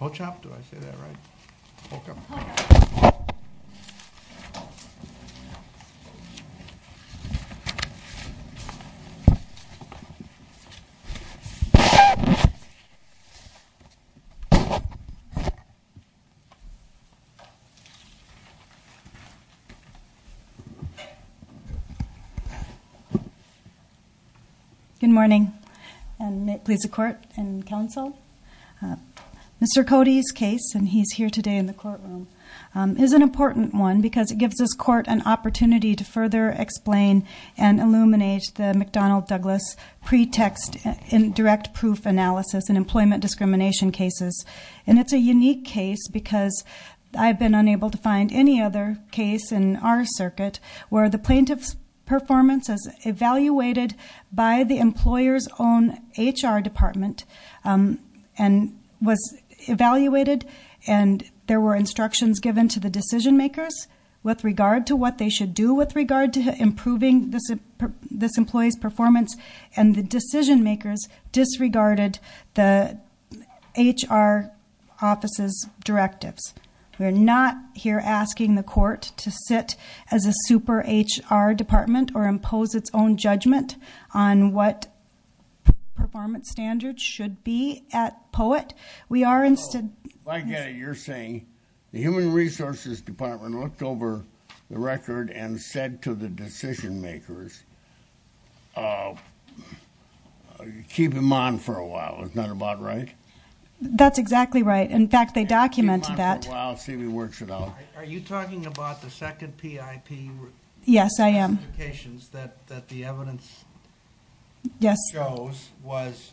Pochop? Did I say that right? Pochop. Good morning, and may it please the court and counsel, Mr. Cody's case, and he's here today in the courtroom, is an important one because it gives this court an opportunity to further explain and illuminate the McDonnell Douglas pretext in direct proof analysis in employment discrimination cases. And it's a unique case because I've been unable to find any other case in our circuit where the plaintiff's performance is evaluated by the given to the decision makers with regard to what they should do with regard to improving this employee's performance, and the decision makers disregarded the HR office's directives. We are not here asking the court to sit as a super HR department or impose its own judgment on what performance standards should be at POET. So, if I get it, you're saying the Human Resources Department looked over the record and said to the decision makers, keep him on for a while, is that about right? That's exactly right. In fact, they documented that. Keep him on for a while, see if he works it out. Are you talking about the second PIP? Yes, I am. So, one of the clarifications that the evidence shows was,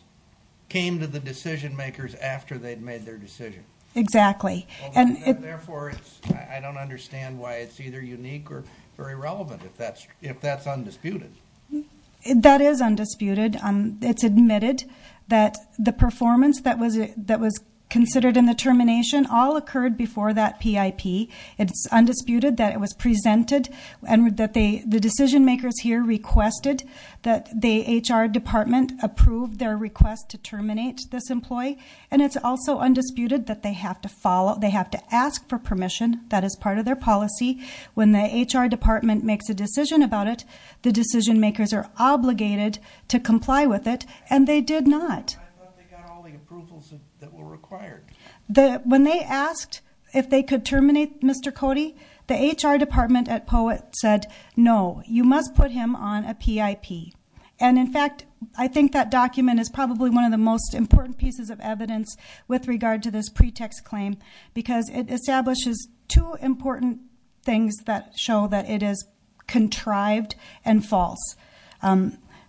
came to the decision makers after they'd made their decision. Exactly. And therefore, I don't understand why it's either unique or very relevant if that's undisputed. That is undisputed. It's admitted that the performance that was considered in the termination all occurred before that PIP. It's undisputed that it was presented and that the decision makers here requested that the HR department approve their request to terminate this employee. And it's also undisputed that they have to ask for permission. That is part of their policy. When the HR department makes a decision about it, the decision makers are obligated to comply with it, and they did not. I thought they got all the approvals that were required. When they asked if they could terminate Mr. Cody, the HR department at POET said, no, you must put him on a PIP. And in fact, I think that document is probably one of the most important pieces of evidence with regard to this pretext claim because it establishes two important things that show that it is contrived and false.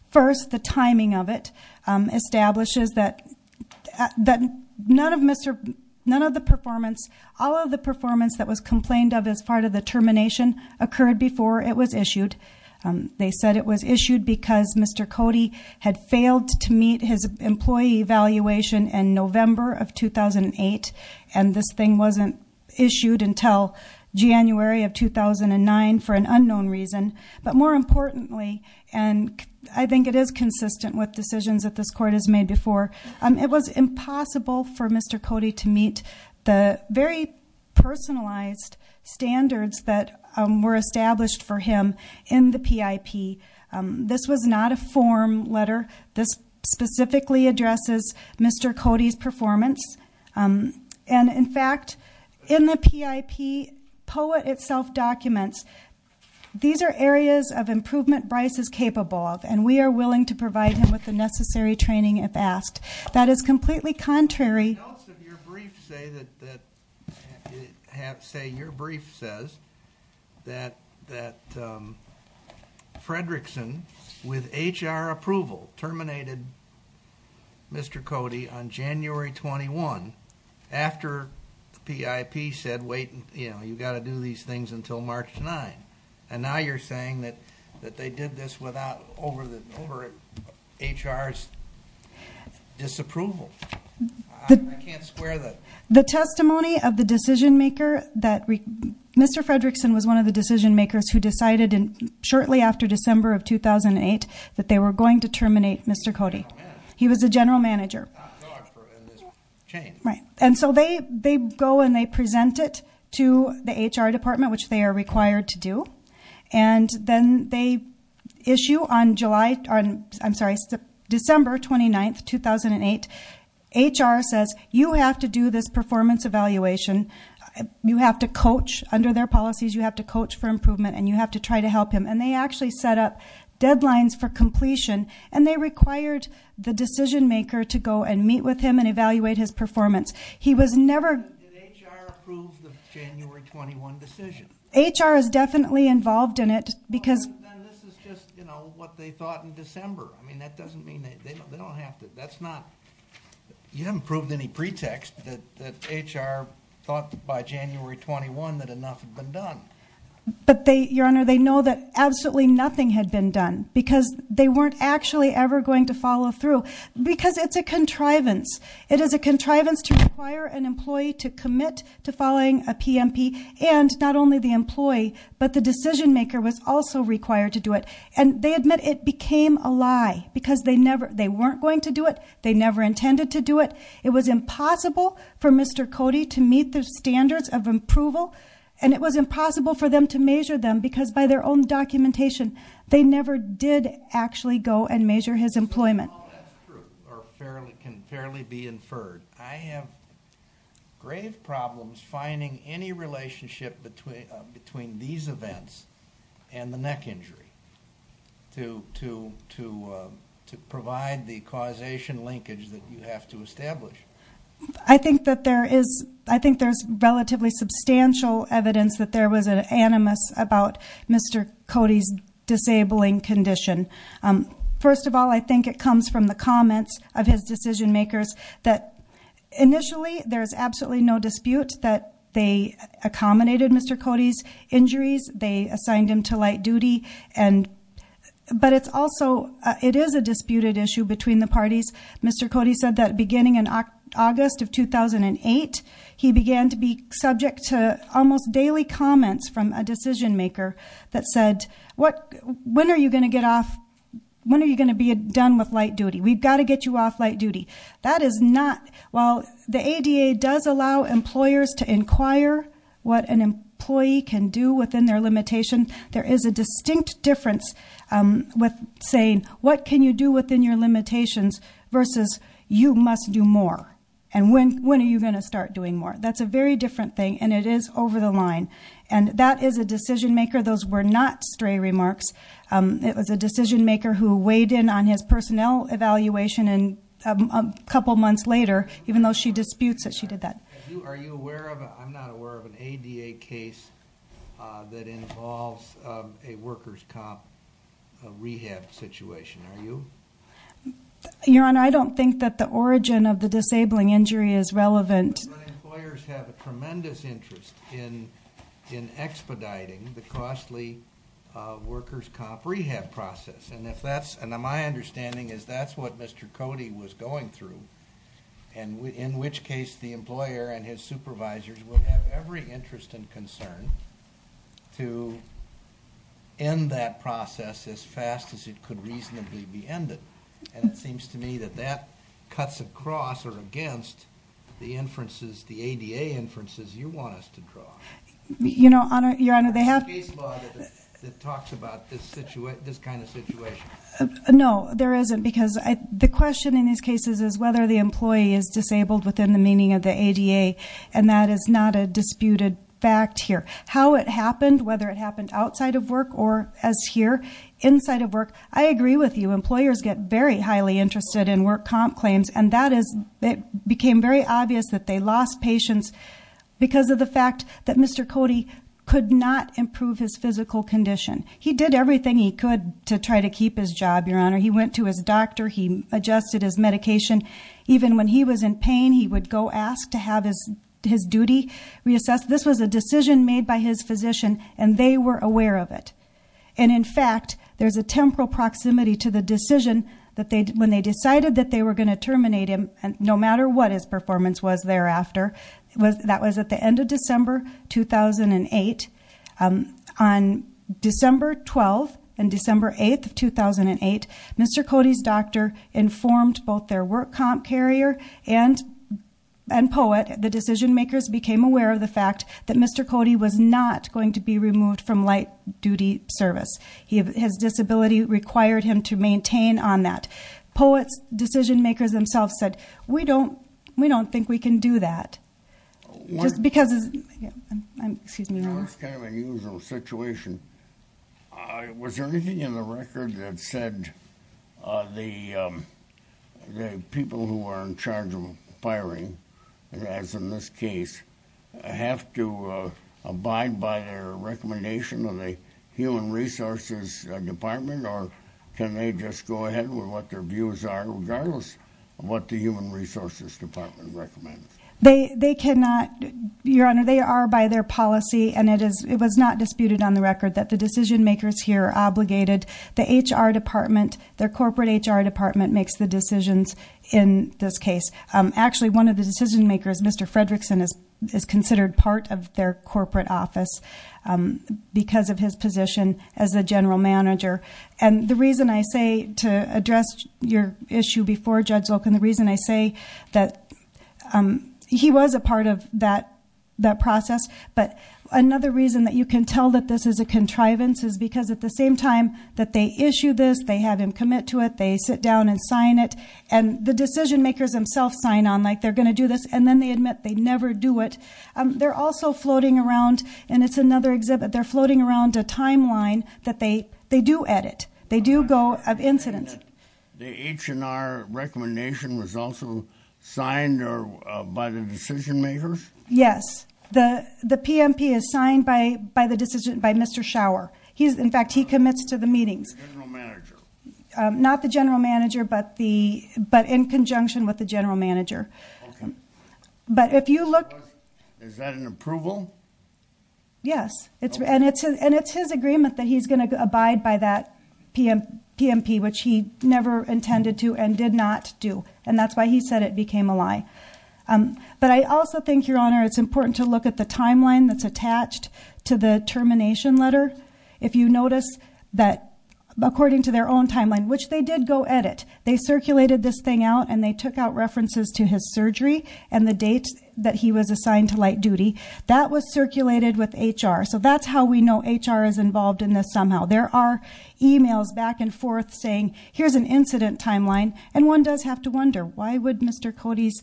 First, the timing of it establishes that none of the performance, all of the performance that was complained of as part of the termination occurred before it was issued. They said it was issued because Mr. Cody had failed to meet his employee evaluation in November of 2008, and this thing wasn't issued until January of 2009 for an unknown reason. But more importantly, and I think it is consistent with decisions that this court has made before, it was impossible for Mr. Cody to meet the very personalized standards that were established for him in the PIP. This was not a form letter. This specifically addresses Mr. Cody's performance. And in fact, in the PIP, POET itself documents, these are areas of improvement Bryce is capable of, and we are willing to provide him with the necessary training if asked. That is completely contrary- Notes of your brief say that, say your brief says that Fredrickson, with HR approval, terminated Mr. Cody on January 21, after the PIP said, wait, you've got to do these things until March 9. And now you're saying that they did this over HR's disapproval. I can't square that. The testimony of the decision-maker, that Mr. Fredrickson was one of the decision-makers who decided shortly after December of 2008 that they were going to terminate Mr. Cody. He was the general manager. And so they go and they present it to the HR department, which they are required to do. And then they issue on July, I'm sorry, December 29, 2008, HR says, you have to do this performance evaluation. You have to coach, under their policies, you have to coach for him, and you have to try to help him. And they actually set up deadlines for completion, and they required the decision-maker to go and meet with him and evaluate his performance. He was never- Did HR approve the January 21 decision? HR is definitely involved in it because- Then this is just, you know, what they thought in December. I mean, that doesn't mean that they don't have to, that's not, you haven't proved any pretext that HR thought by January 21 that enough had been done. But they, Your Honor, they know that absolutely nothing had been done, because they weren't actually ever going to follow through. Because it's a contrivance. It is a contrivance to require an employee to commit to following a PMP, and not only the employee, but the decision-maker was also required to do it. And they admit it became a lie, because they never, they weren't going to do it, they never intended to do it. It was impossible for Mr. for them to measure them, because by their own documentation, they never did actually go and measure his employment. If all that's true, or can fairly be inferred, I have grave problems finding any relationship between these events and the neck injury to provide the causation linkage that you have to establish. I think that there is, I think there's relatively substantial evidence that there was an animus about Mr. Cody's disabling condition. First of all, I think it comes from the comments of his decision-makers that initially, there's absolutely no dispute that they accommodated Mr. Cody's injuries, they assigned him to light duty, and, but it's also, it is a disputed issue between the parties. Mr. Cody said that beginning in August of 2008, he began to be subject to almost daily comments from a decision-maker that said, when are you going to get off, when are you going to be done with light duty? We've got to get you off light duty. That is not, while the ADA does allow employers to inquire what an employee can do within their limitation, there is a distinct difference with saying, what can you do within your limitations, versus, you must do more, and when are you going to start doing more? That's a very different thing, and it is over the line. And that is a decision-maker, those were not stray remarks, it was a decision-maker who weighed in on his personnel evaluation and a couple months later, even though she disputes that she did that. Are you aware of, I'm not aware of an ADA case that involves a workers' comp rehab situation, are you? Your Honor, I don't think that the origin of the disabling injury is relevant. But employers have a tremendous interest in expediting the costly workers' comp rehab process, and if that's, and my understanding is that's what Mr. Cody was going through, and in which case the employer and his supervisors will have every interest and concern to end that process as fast as it could reasonably be ended, and it seems to me that that cuts across or against the inferences, the ADA inferences you want us to draw. You know, Your Honor, they have... Is there a case law that talks about this kind of situation? No, there isn't, because the question in these cases is whether the employee is disabled within the meaning of the ADA, and that is not a disputed fact here. How it happened, whether it happened outside of work or, as here, inside of work, I agree with you, employers get very highly interested in work comp claims, and that is, it became very obvious that they lost patience because of the fact that Mr. Cody could not improve his physical condition. He did everything he could to try to keep his job, Your Honor. He went to his doctor, he adjusted his medication. Even when he was in pain, he would go ask to have his duty reassessed. This was a decision made by his physician, and they were aware of it, and in fact, there's a temporal proximity to the decision that they, when they decided that they were going to terminate him, no matter what his performance was thereafter, that was at the end of December 2008. On December 12th and December 8th of 2008, Mr. Cody's doctor informed both their work comp carrier and POET, the decision makers became aware of the fact that Mr. Cody was not going to be removed from light duty service. His disability required him to maintain on that. POET's decision makers themselves said, we don't, we don't think we can do that. Just because, excuse me, Your Honor. That's kind of an unusual situation. Was there anything in the record that said the people who are in charge of firing, as in this case, have to abide by their recommendation of the human resources department, or can they just go ahead with what their views are, regardless of what the human resources department recommends? They cannot, Your Honor, they are by their policy and it is, it was not disputed on the record that the decision makers here are obligated, the HR department, their corporate HR department makes the decisions in this case. Actually one of the decision makers, Mr. Fredrickson, is considered part of their corporate office because of his position as the general manager. And the reason I say to address your issue before Judge Volk, and the reason I say that he was a part of that process, but another reason that you can tell that this is a contrivance is because at the same time that they issue this, they have him commit to it, they sit down and sign it, and the decision makers themselves sign on, like they're going to do this, and then they admit they never do it. They're also floating around, and it's another exhibit, they're floating around a timeline that they do edit. They do go of incident. The H&R recommendation was also signed by the decision makers? Yes. The PMP is signed by the decision, by Mr. Schauer. He's, in fact, he commits to the meetings. Not the general manager, but the, but in conjunction with the general manager. But if you look. Is that an approval? Yes. And it's his agreement that he's going to abide by that PMP, which he never intended to and did not do, and that's why he said it became a lie. But I also think, Your Honor, it's important to look at the timeline that's attached to the termination letter. If you notice that according to their own timeline, which they did go edit, they circulated this thing out, and they took out references to his surgery, and the date that he was assigned to light duty. That was circulated with HR. So that's how we know HR is involved in this somehow. There are emails back and forth saying, here's an incident timeline. And one does have to wonder, why would Mr. Cody's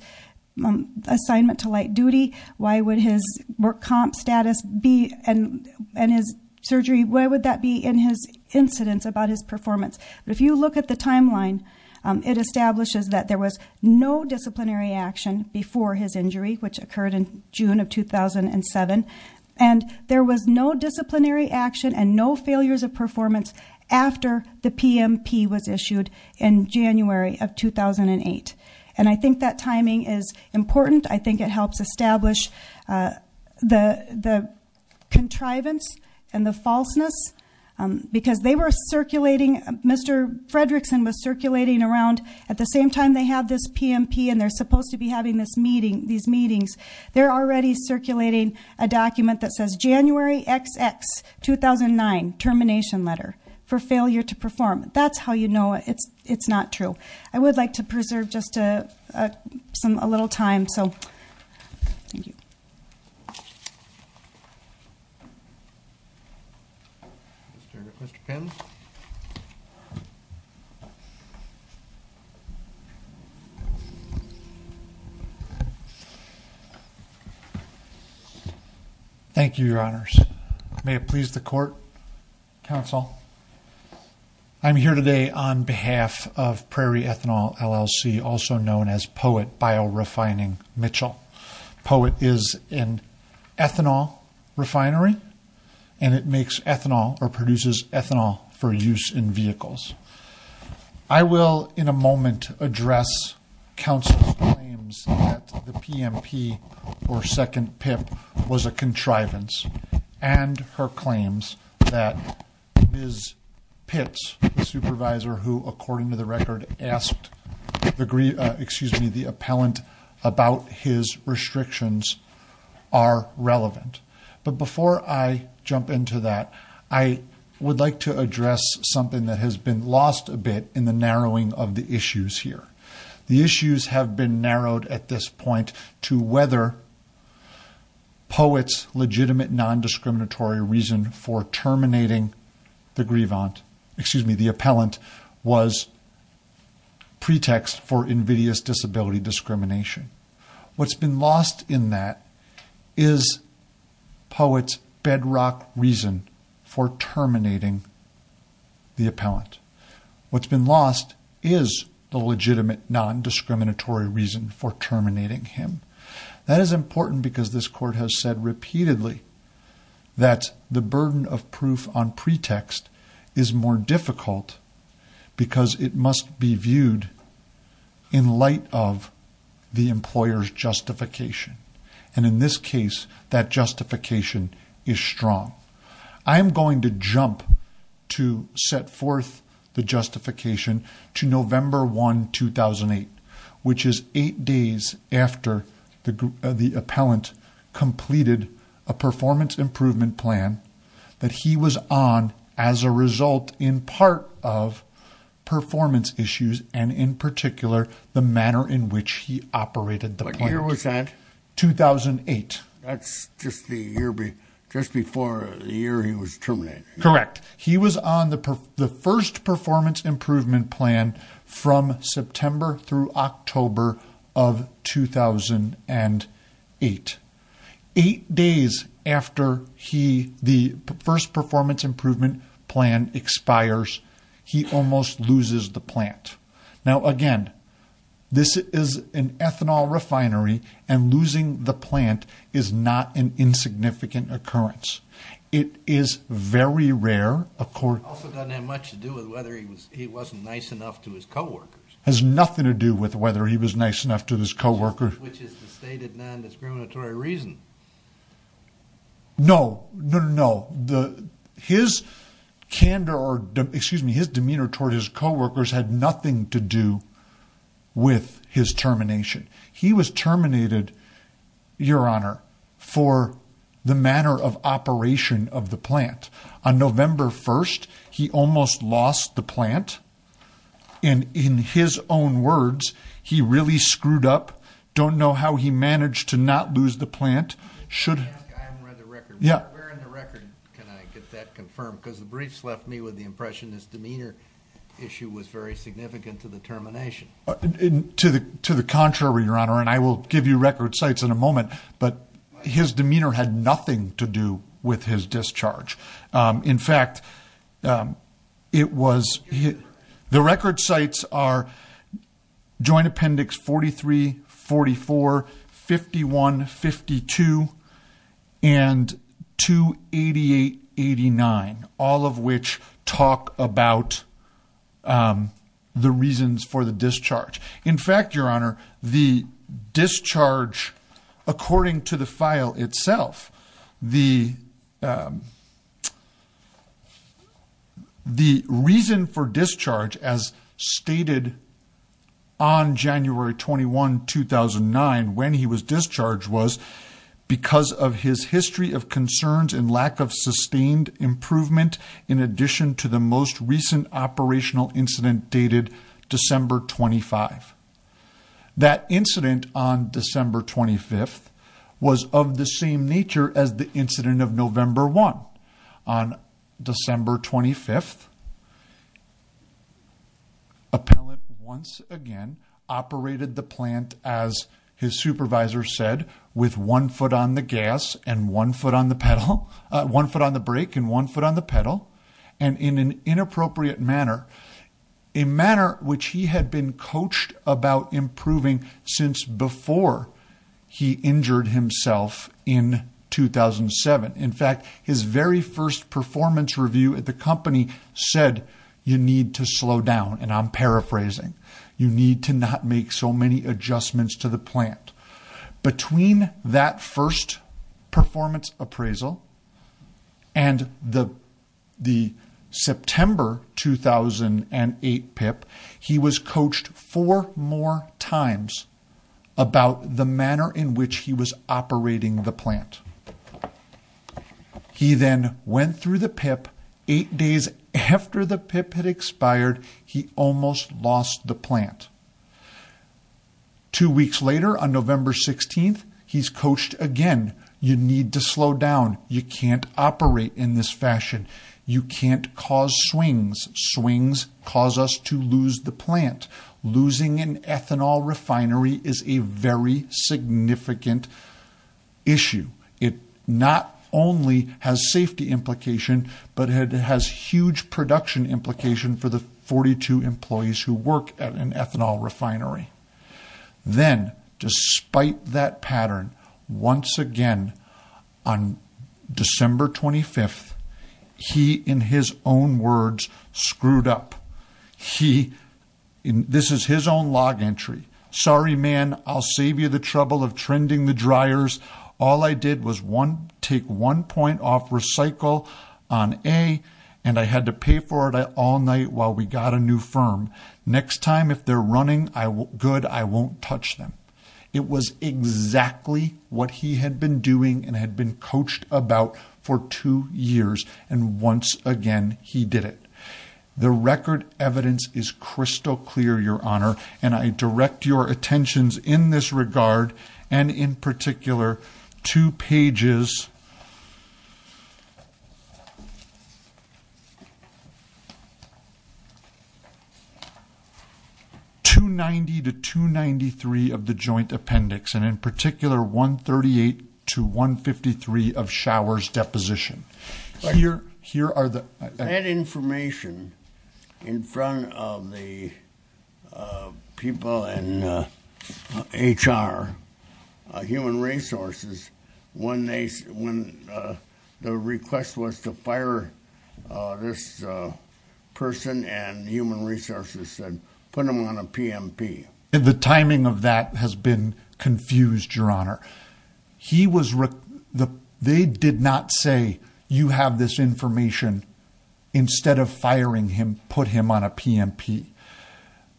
assignment to light duty, why would his work comp status be, and his surgery, why would that be in his incidents about his performance? But if you look at the timeline, it establishes that there was no disciplinary action before his injury, which occurred in June of 2007, and there was no disciplinary action and no failures of performance after the PMP was issued in January of 2008. And I think that timing is important. I think it helps establish the contrivance and the falseness. Because they were circulating, Mr. Fredrickson was circulating around, at the same time they have this PMP, and they're supposed to be having these meetings, they're already circulating a document that says, January XX, 2009, termination letter for failure to perform. That's how you know it's not true. I would like to preserve just a little time, so, thank you. Mr. Pimm. Thank you, your honors. May it please the court, counsel. I'm here today on behalf of Prairie Ethanol LLC, also known as POET Biorefining Mitchell. POET is an ethanol refinery, and it makes ethanol, or produces ethanol, for use in vehicles. I will, in a moment, address counsel's claims that the PMP, or second PIP, was a contrivance, and her claims that Ms. Pitts, the supervisor who, according to the record, asked the appellant about his restrictions, are relevant. But before I jump into that, I would like to address something that has been lost a bit in the narrowing of the issues here. The issues have been narrowed at this point to whether POET's legitimate non-discriminatory reason for terminating the grievant, excuse me, the appellant, was pretext for invidious disability discrimination. What's been lost in that is POET's bedrock reason for terminating the appellant. What's been lost is the legitimate non-discriminatory reason for terminating him. That is important because this court has said repeatedly that the burden of proof on pretext is more difficult because it must be viewed in light of the employer's justification. And in this case, that justification is strong. I am going to jump to set forth the justification to November 1, 2008, which is eight days after the appellant completed a performance improvement plan that he was on as a result in part of performance issues, and in particular, the manner in which he operated the plan. What year was that? 2008. That's just before the year he was terminated. Correct. He was on the first performance improvement plan from September through October of 2008. Eight days after the first performance improvement plan expires, he almost loses the plant. Now, again, this is an ethanol refinery, and losing the plant is not an insignificant occurrence. It is very rare, of course. It also doesn't have much to do with whether he wasn't nice enough to his coworkers. Has nothing to do with whether he was nice enough to his coworkers. Which is the stated non-discriminatory reason. No. No, no, no. His candor, or excuse me, his demeanor toward his coworkers had nothing to do with his termination. He was terminated, your honor, for the manner of operation of the plant. On November 1, he almost lost the plant, and in his own words, he really screwed up. Don't know how he managed to not lose the plant. I haven't read the record. Where in the record can I get that confirmed? Because the briefs left me with the impression his demeanor issue was very significant to the termination. To the contrary, your honor, and I will give you record sites in a moment, but his demeanor had nothing to do with his discharge. In fact, it was, the record sites are Joint Appendix 43, 44, 51, 52, and 288, 89. All of which talk about the reasons for the discharge. In fact, your honor, the discharge, according to the file itself, the reason for discharge, as stated on January 21, 2009, when he was discharged, was because of his history of concerns and lack of sustained improvement, in addition to the most recent operational incident dated December 25. That incident on December 25 was of the same nature as the incident of November 1. On December 25, appellant once again operated the plant, as his supervisor said, with one foot on the gas and one foot on the pedal, one foot on the brake and one foot on the pedal, and in an inappropriate manner. A manner which he had been coached about improving since before he injured himself in 2007. In fact, his very first performance review at the company said, you need to slow down, and I'm paraphrasing. You need to not make so many adjustments to the plant. Between that first performance appraisal and the September 2008 PIP, he was coached four more times about the manner in which he was operating the plant. He then went through the PIP, eight days after the PIP had expired, he almost lost the plant. Two weeks later, on November 16, he's coached again. You need to slow down. You can't operate in this fashion. You can't cause swings. Swings cause us to lose the plant. Losing an ethanol refinery is a very significant issue. It not only has safety implications, but it has huge production implications for the 42 employees who work at an ethanol refinery. Then, despite that pattern, once again, on December 25, he, in his own words, screwed up. This is his own log entry. Sorry man, I'll save you the trouble of trending the dryers. All I did was take one point off recycle on A, and I had to pay for it all night while we got a new firm. Next time, if they're running good, I won't touch them. It was exactly what he had been doing and had been coached about for two years, and once again, he did it. The record evidence is crystal clear, Your Honor, and I direct your attentions in this regard, and in particular, two pages, 290 to 293 of the joint appendix, and in particular, 138 to 153 of Shower's deposition. That information, in front of the people in HR, Human Resources, when the request was to fire this person and Human Resources said, put him on a PMP. The timing of that has been confused, Your Honor. They did not say, you have this information instead of firing him, put him on a PMP.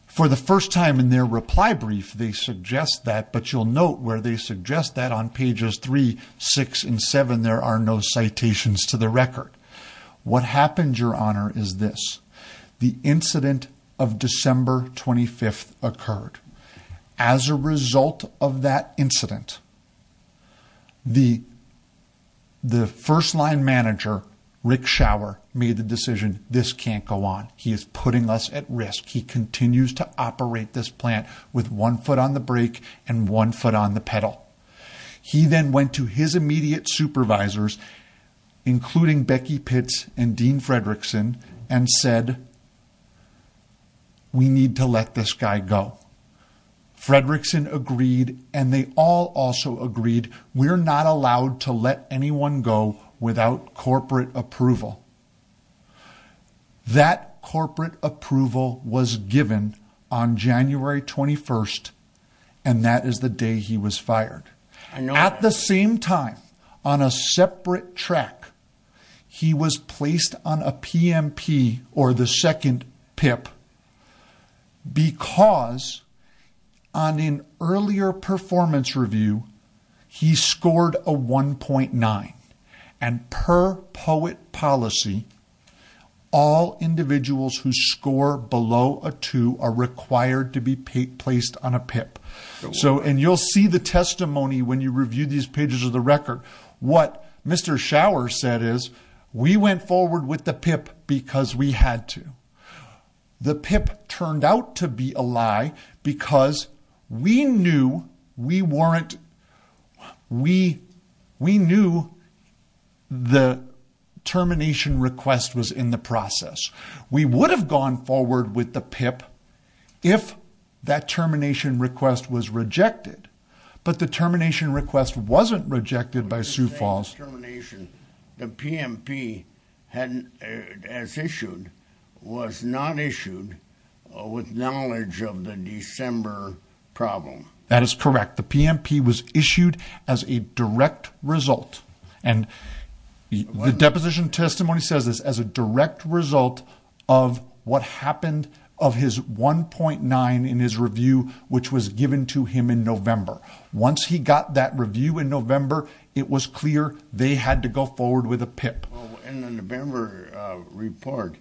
For the first time in their reply brief, they suggest that, but you'll note where they suggest that on pages 3, 6, and 7, there are no citations to the record. What happened, Your Honor, is this. The incident of December 25th occurred. As a result of that incident, the first-line manager, Rick Shower, made the decision, this can't go on. He is putting us at risk. He continues to operate this plant with one foot on the brake and one foot on the pedal. He then went to his immediate supervisors, including Becky Pitts and Dean Fredrickson, and said, we need to let this guy go. Fredrickson agreed, and they all also agreed, we're not allowed to let anyone go without corporate approval. That corporate approval was given on January 21st, and that is the day he was fired. At the same time, on a separate track, he was placed on a PMP, or the second PIP, because on an earlier performance review, he scored a 1.9. And per POET policy, all individuals who score below a 2 are required to be placed on a PIP. So, and you'll see the testimony when you review these pages of the record, what Mr. Shower said is, we went forward with the PIP because we had to. The PIP turned out to be a lie because we knew we weren't, we knew the termination request was in the process. We would have gone forward with the PIP if that termination request was rejected, but the termination request wasn't rejected by Sioux Falls. The PMP, as issued, was not issued with knowledge of the December problem. That is correct. The PMP was issued as a direct result, and the deposition testimony says this, as a direct result of what happened of his 1.9 in his review, which was given to him in November. Once he got that review in November, it was clear they had to go forward with a PIP. In the November report,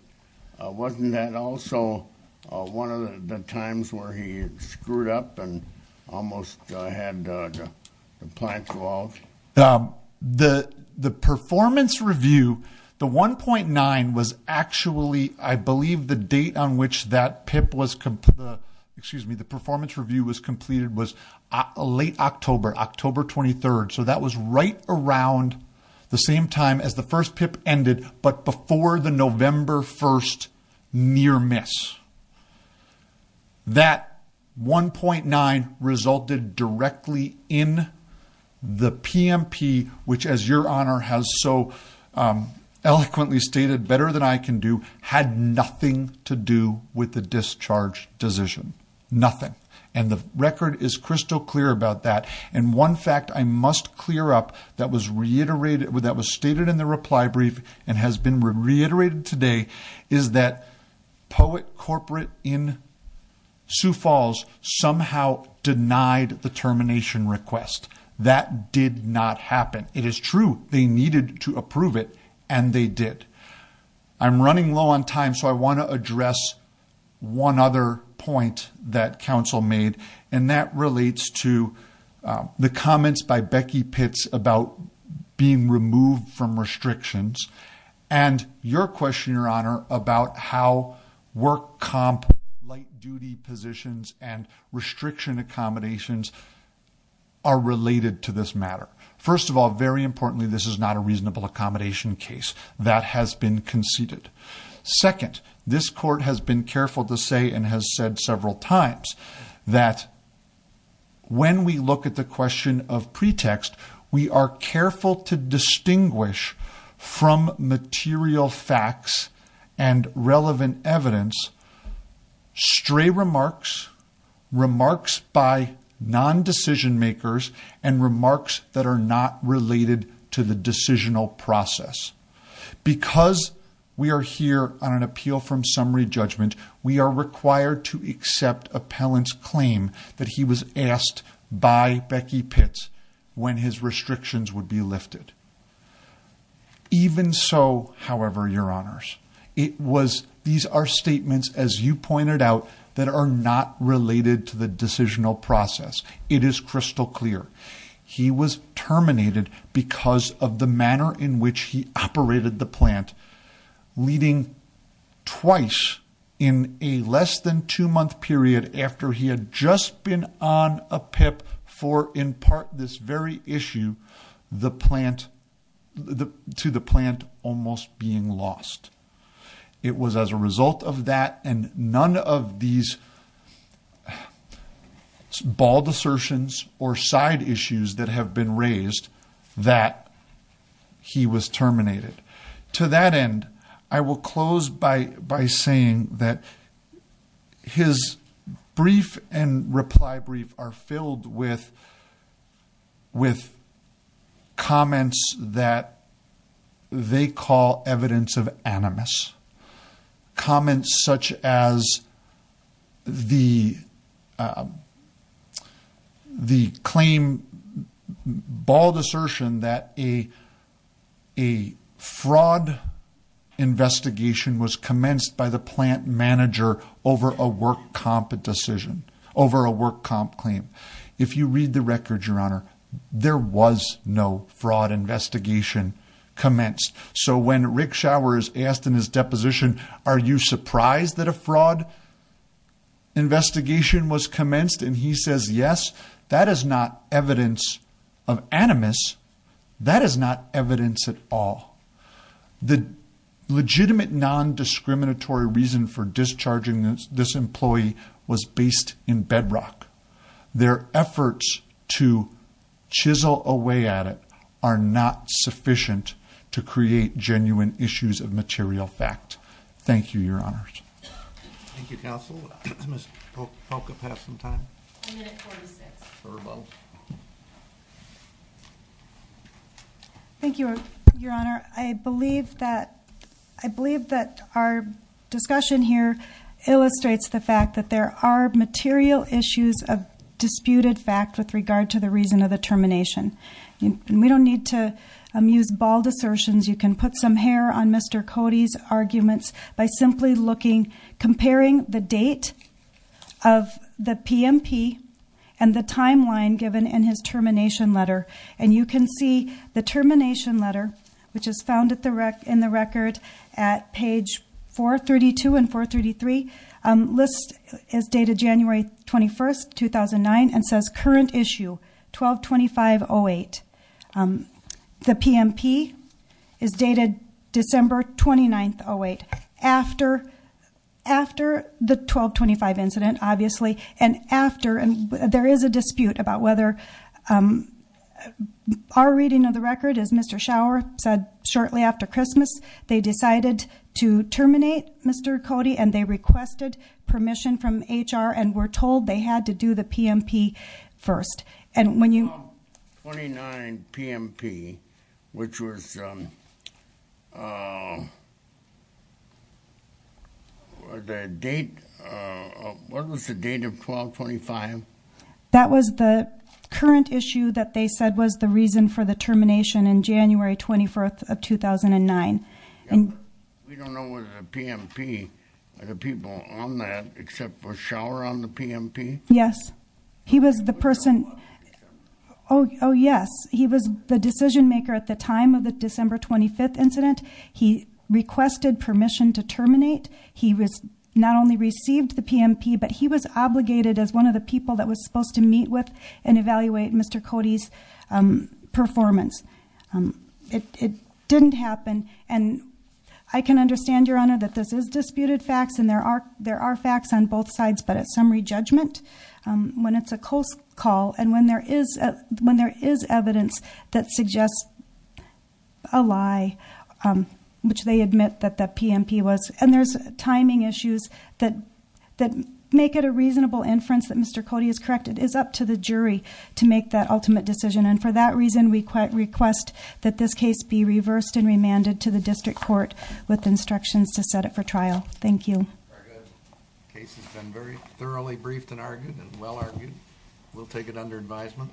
wasn't that also one of the times where he had screwed up and almost had the plant go out? The performance review, the 1.9 was actually, I believe the date on which that PIP was, excuse me, the performance review was completed was late October, October 23rd. So that was right around the same time as the first PIP ended, but before the November 1st near miss. That 1.9 resulted directly in the PMP, which as your honor has so eloquently stated better than I can do, had nothing to do with the discharge decision. Nothing. And the record is crystal clear about that. And one fact I must clear up that was reiterated, that was stated in the reply brief and has been reiterated today is that Poet Corporate in Sioux Falls somehow denied the termination request. That did not happen. It is true. They needed to approve it and they did. I'm running low on time. So I want to address one other point that council made and that relates to the comments by Becky Pitts about being removed from restrictions and your question your honor about how work comp light duty positions and restriction accommodations are related to this matter. First of all, very importantly, this is not a reasonable accommodation case that has been conceded. Second, this court has been careful to say and has said several times that when we look at the question of pretext, we are careful to distinguish from material facts and relevant evidence stray remarks, remarks by non-decision makers and remarks that are not related to the decisional process. Because we are here on an appeal from summary judgment, we are required to accept appellant's claim that he was asked by Becky Pitts when his restrictions would be lifted. Even so, however, your honors, it was these are statements as you pointed out that are not related to the decisional process. It is crystal clear. He was terminated because of the manner in which he operated the plant leading twice in a less than two month period after he had just been on a PIP for in part this very issue to the plant almost being lost. It was as a result of that and none of these bald assertions or side issues that have been raised that he was terminated. To that end, I will close by saying that his brief and reply brief are filled with with comments that they call evidence of animus. Comments such as the claim bald assertion that a fraud investigation was commenced by the plant manager over a work comp decision over a work comp claim. If you read the record, your honor, there was no fraud investigation commenced. So when Rick Shower is asked in his deposition are you surprised that a fraud investigation was commenced and he says yes, that is not evidence of animus. That is not evidence at all. The legitimate non-discriminatory reason for discharging this employee was based in bedrock. Their efforts to chisel away at it are not sufficient to create genuine issues of material fact. Thank you, your honors. Thank you, counsel. Ms. Polk, have some time. Thank you, your honor. I believe that our discussion here illustrates the fact that there are material issues of disputed fact with regard to the reason of the termination. We don't need to amuse bald assertions. You can put some hair on Mr. Cody's arguments by simply looking comparing the date of the PMP and the timeline given in his termination letter. You can see the termination letter which is found in the record at page 432 and 433 list is dated January 21st, 2009 and says current issue 12-25-08. The PMP is dated December 29th, 2008 after the 12-25 incident obviously and after there is a dispute about whether our reading of the record is Mr. Schauer said shortly after Christmas they decided to terminate Mr. Cody and they requested permission from HR and were told they had to do the PMP first and when you 29 PMP which was the date what was the date of 12-25? That was the current issue that they said was the reason for the termination in January 24th of 2009. We don't know what the PMP the people on that except for Schauer on the PMP? Yes. He was the person oh yes he was the decision maker at the time of the December 25th incident. He requested permission to terminate he was not only received the PMP but he was obligated as one of the people that was supposed to meet with and evaluate Mr. Cody's performance. It didn't happen and I can understand Your Honor that this is disputed facts and there are facts on both sides but at summary judgment when it's a close call and when there is evidence that suggests a lie which they admit that the PMP was and there's timing issues that make it a reasonable inference that Mr. Cody is correct it is up to the jury to make that ultimate decision and for that reason we request that this case be reversed and remanded to the district court with instructions to set it for trial. Thank you. Very good. The case has been very thoroughly briefed and argued and well argued. We'll take it under advisement.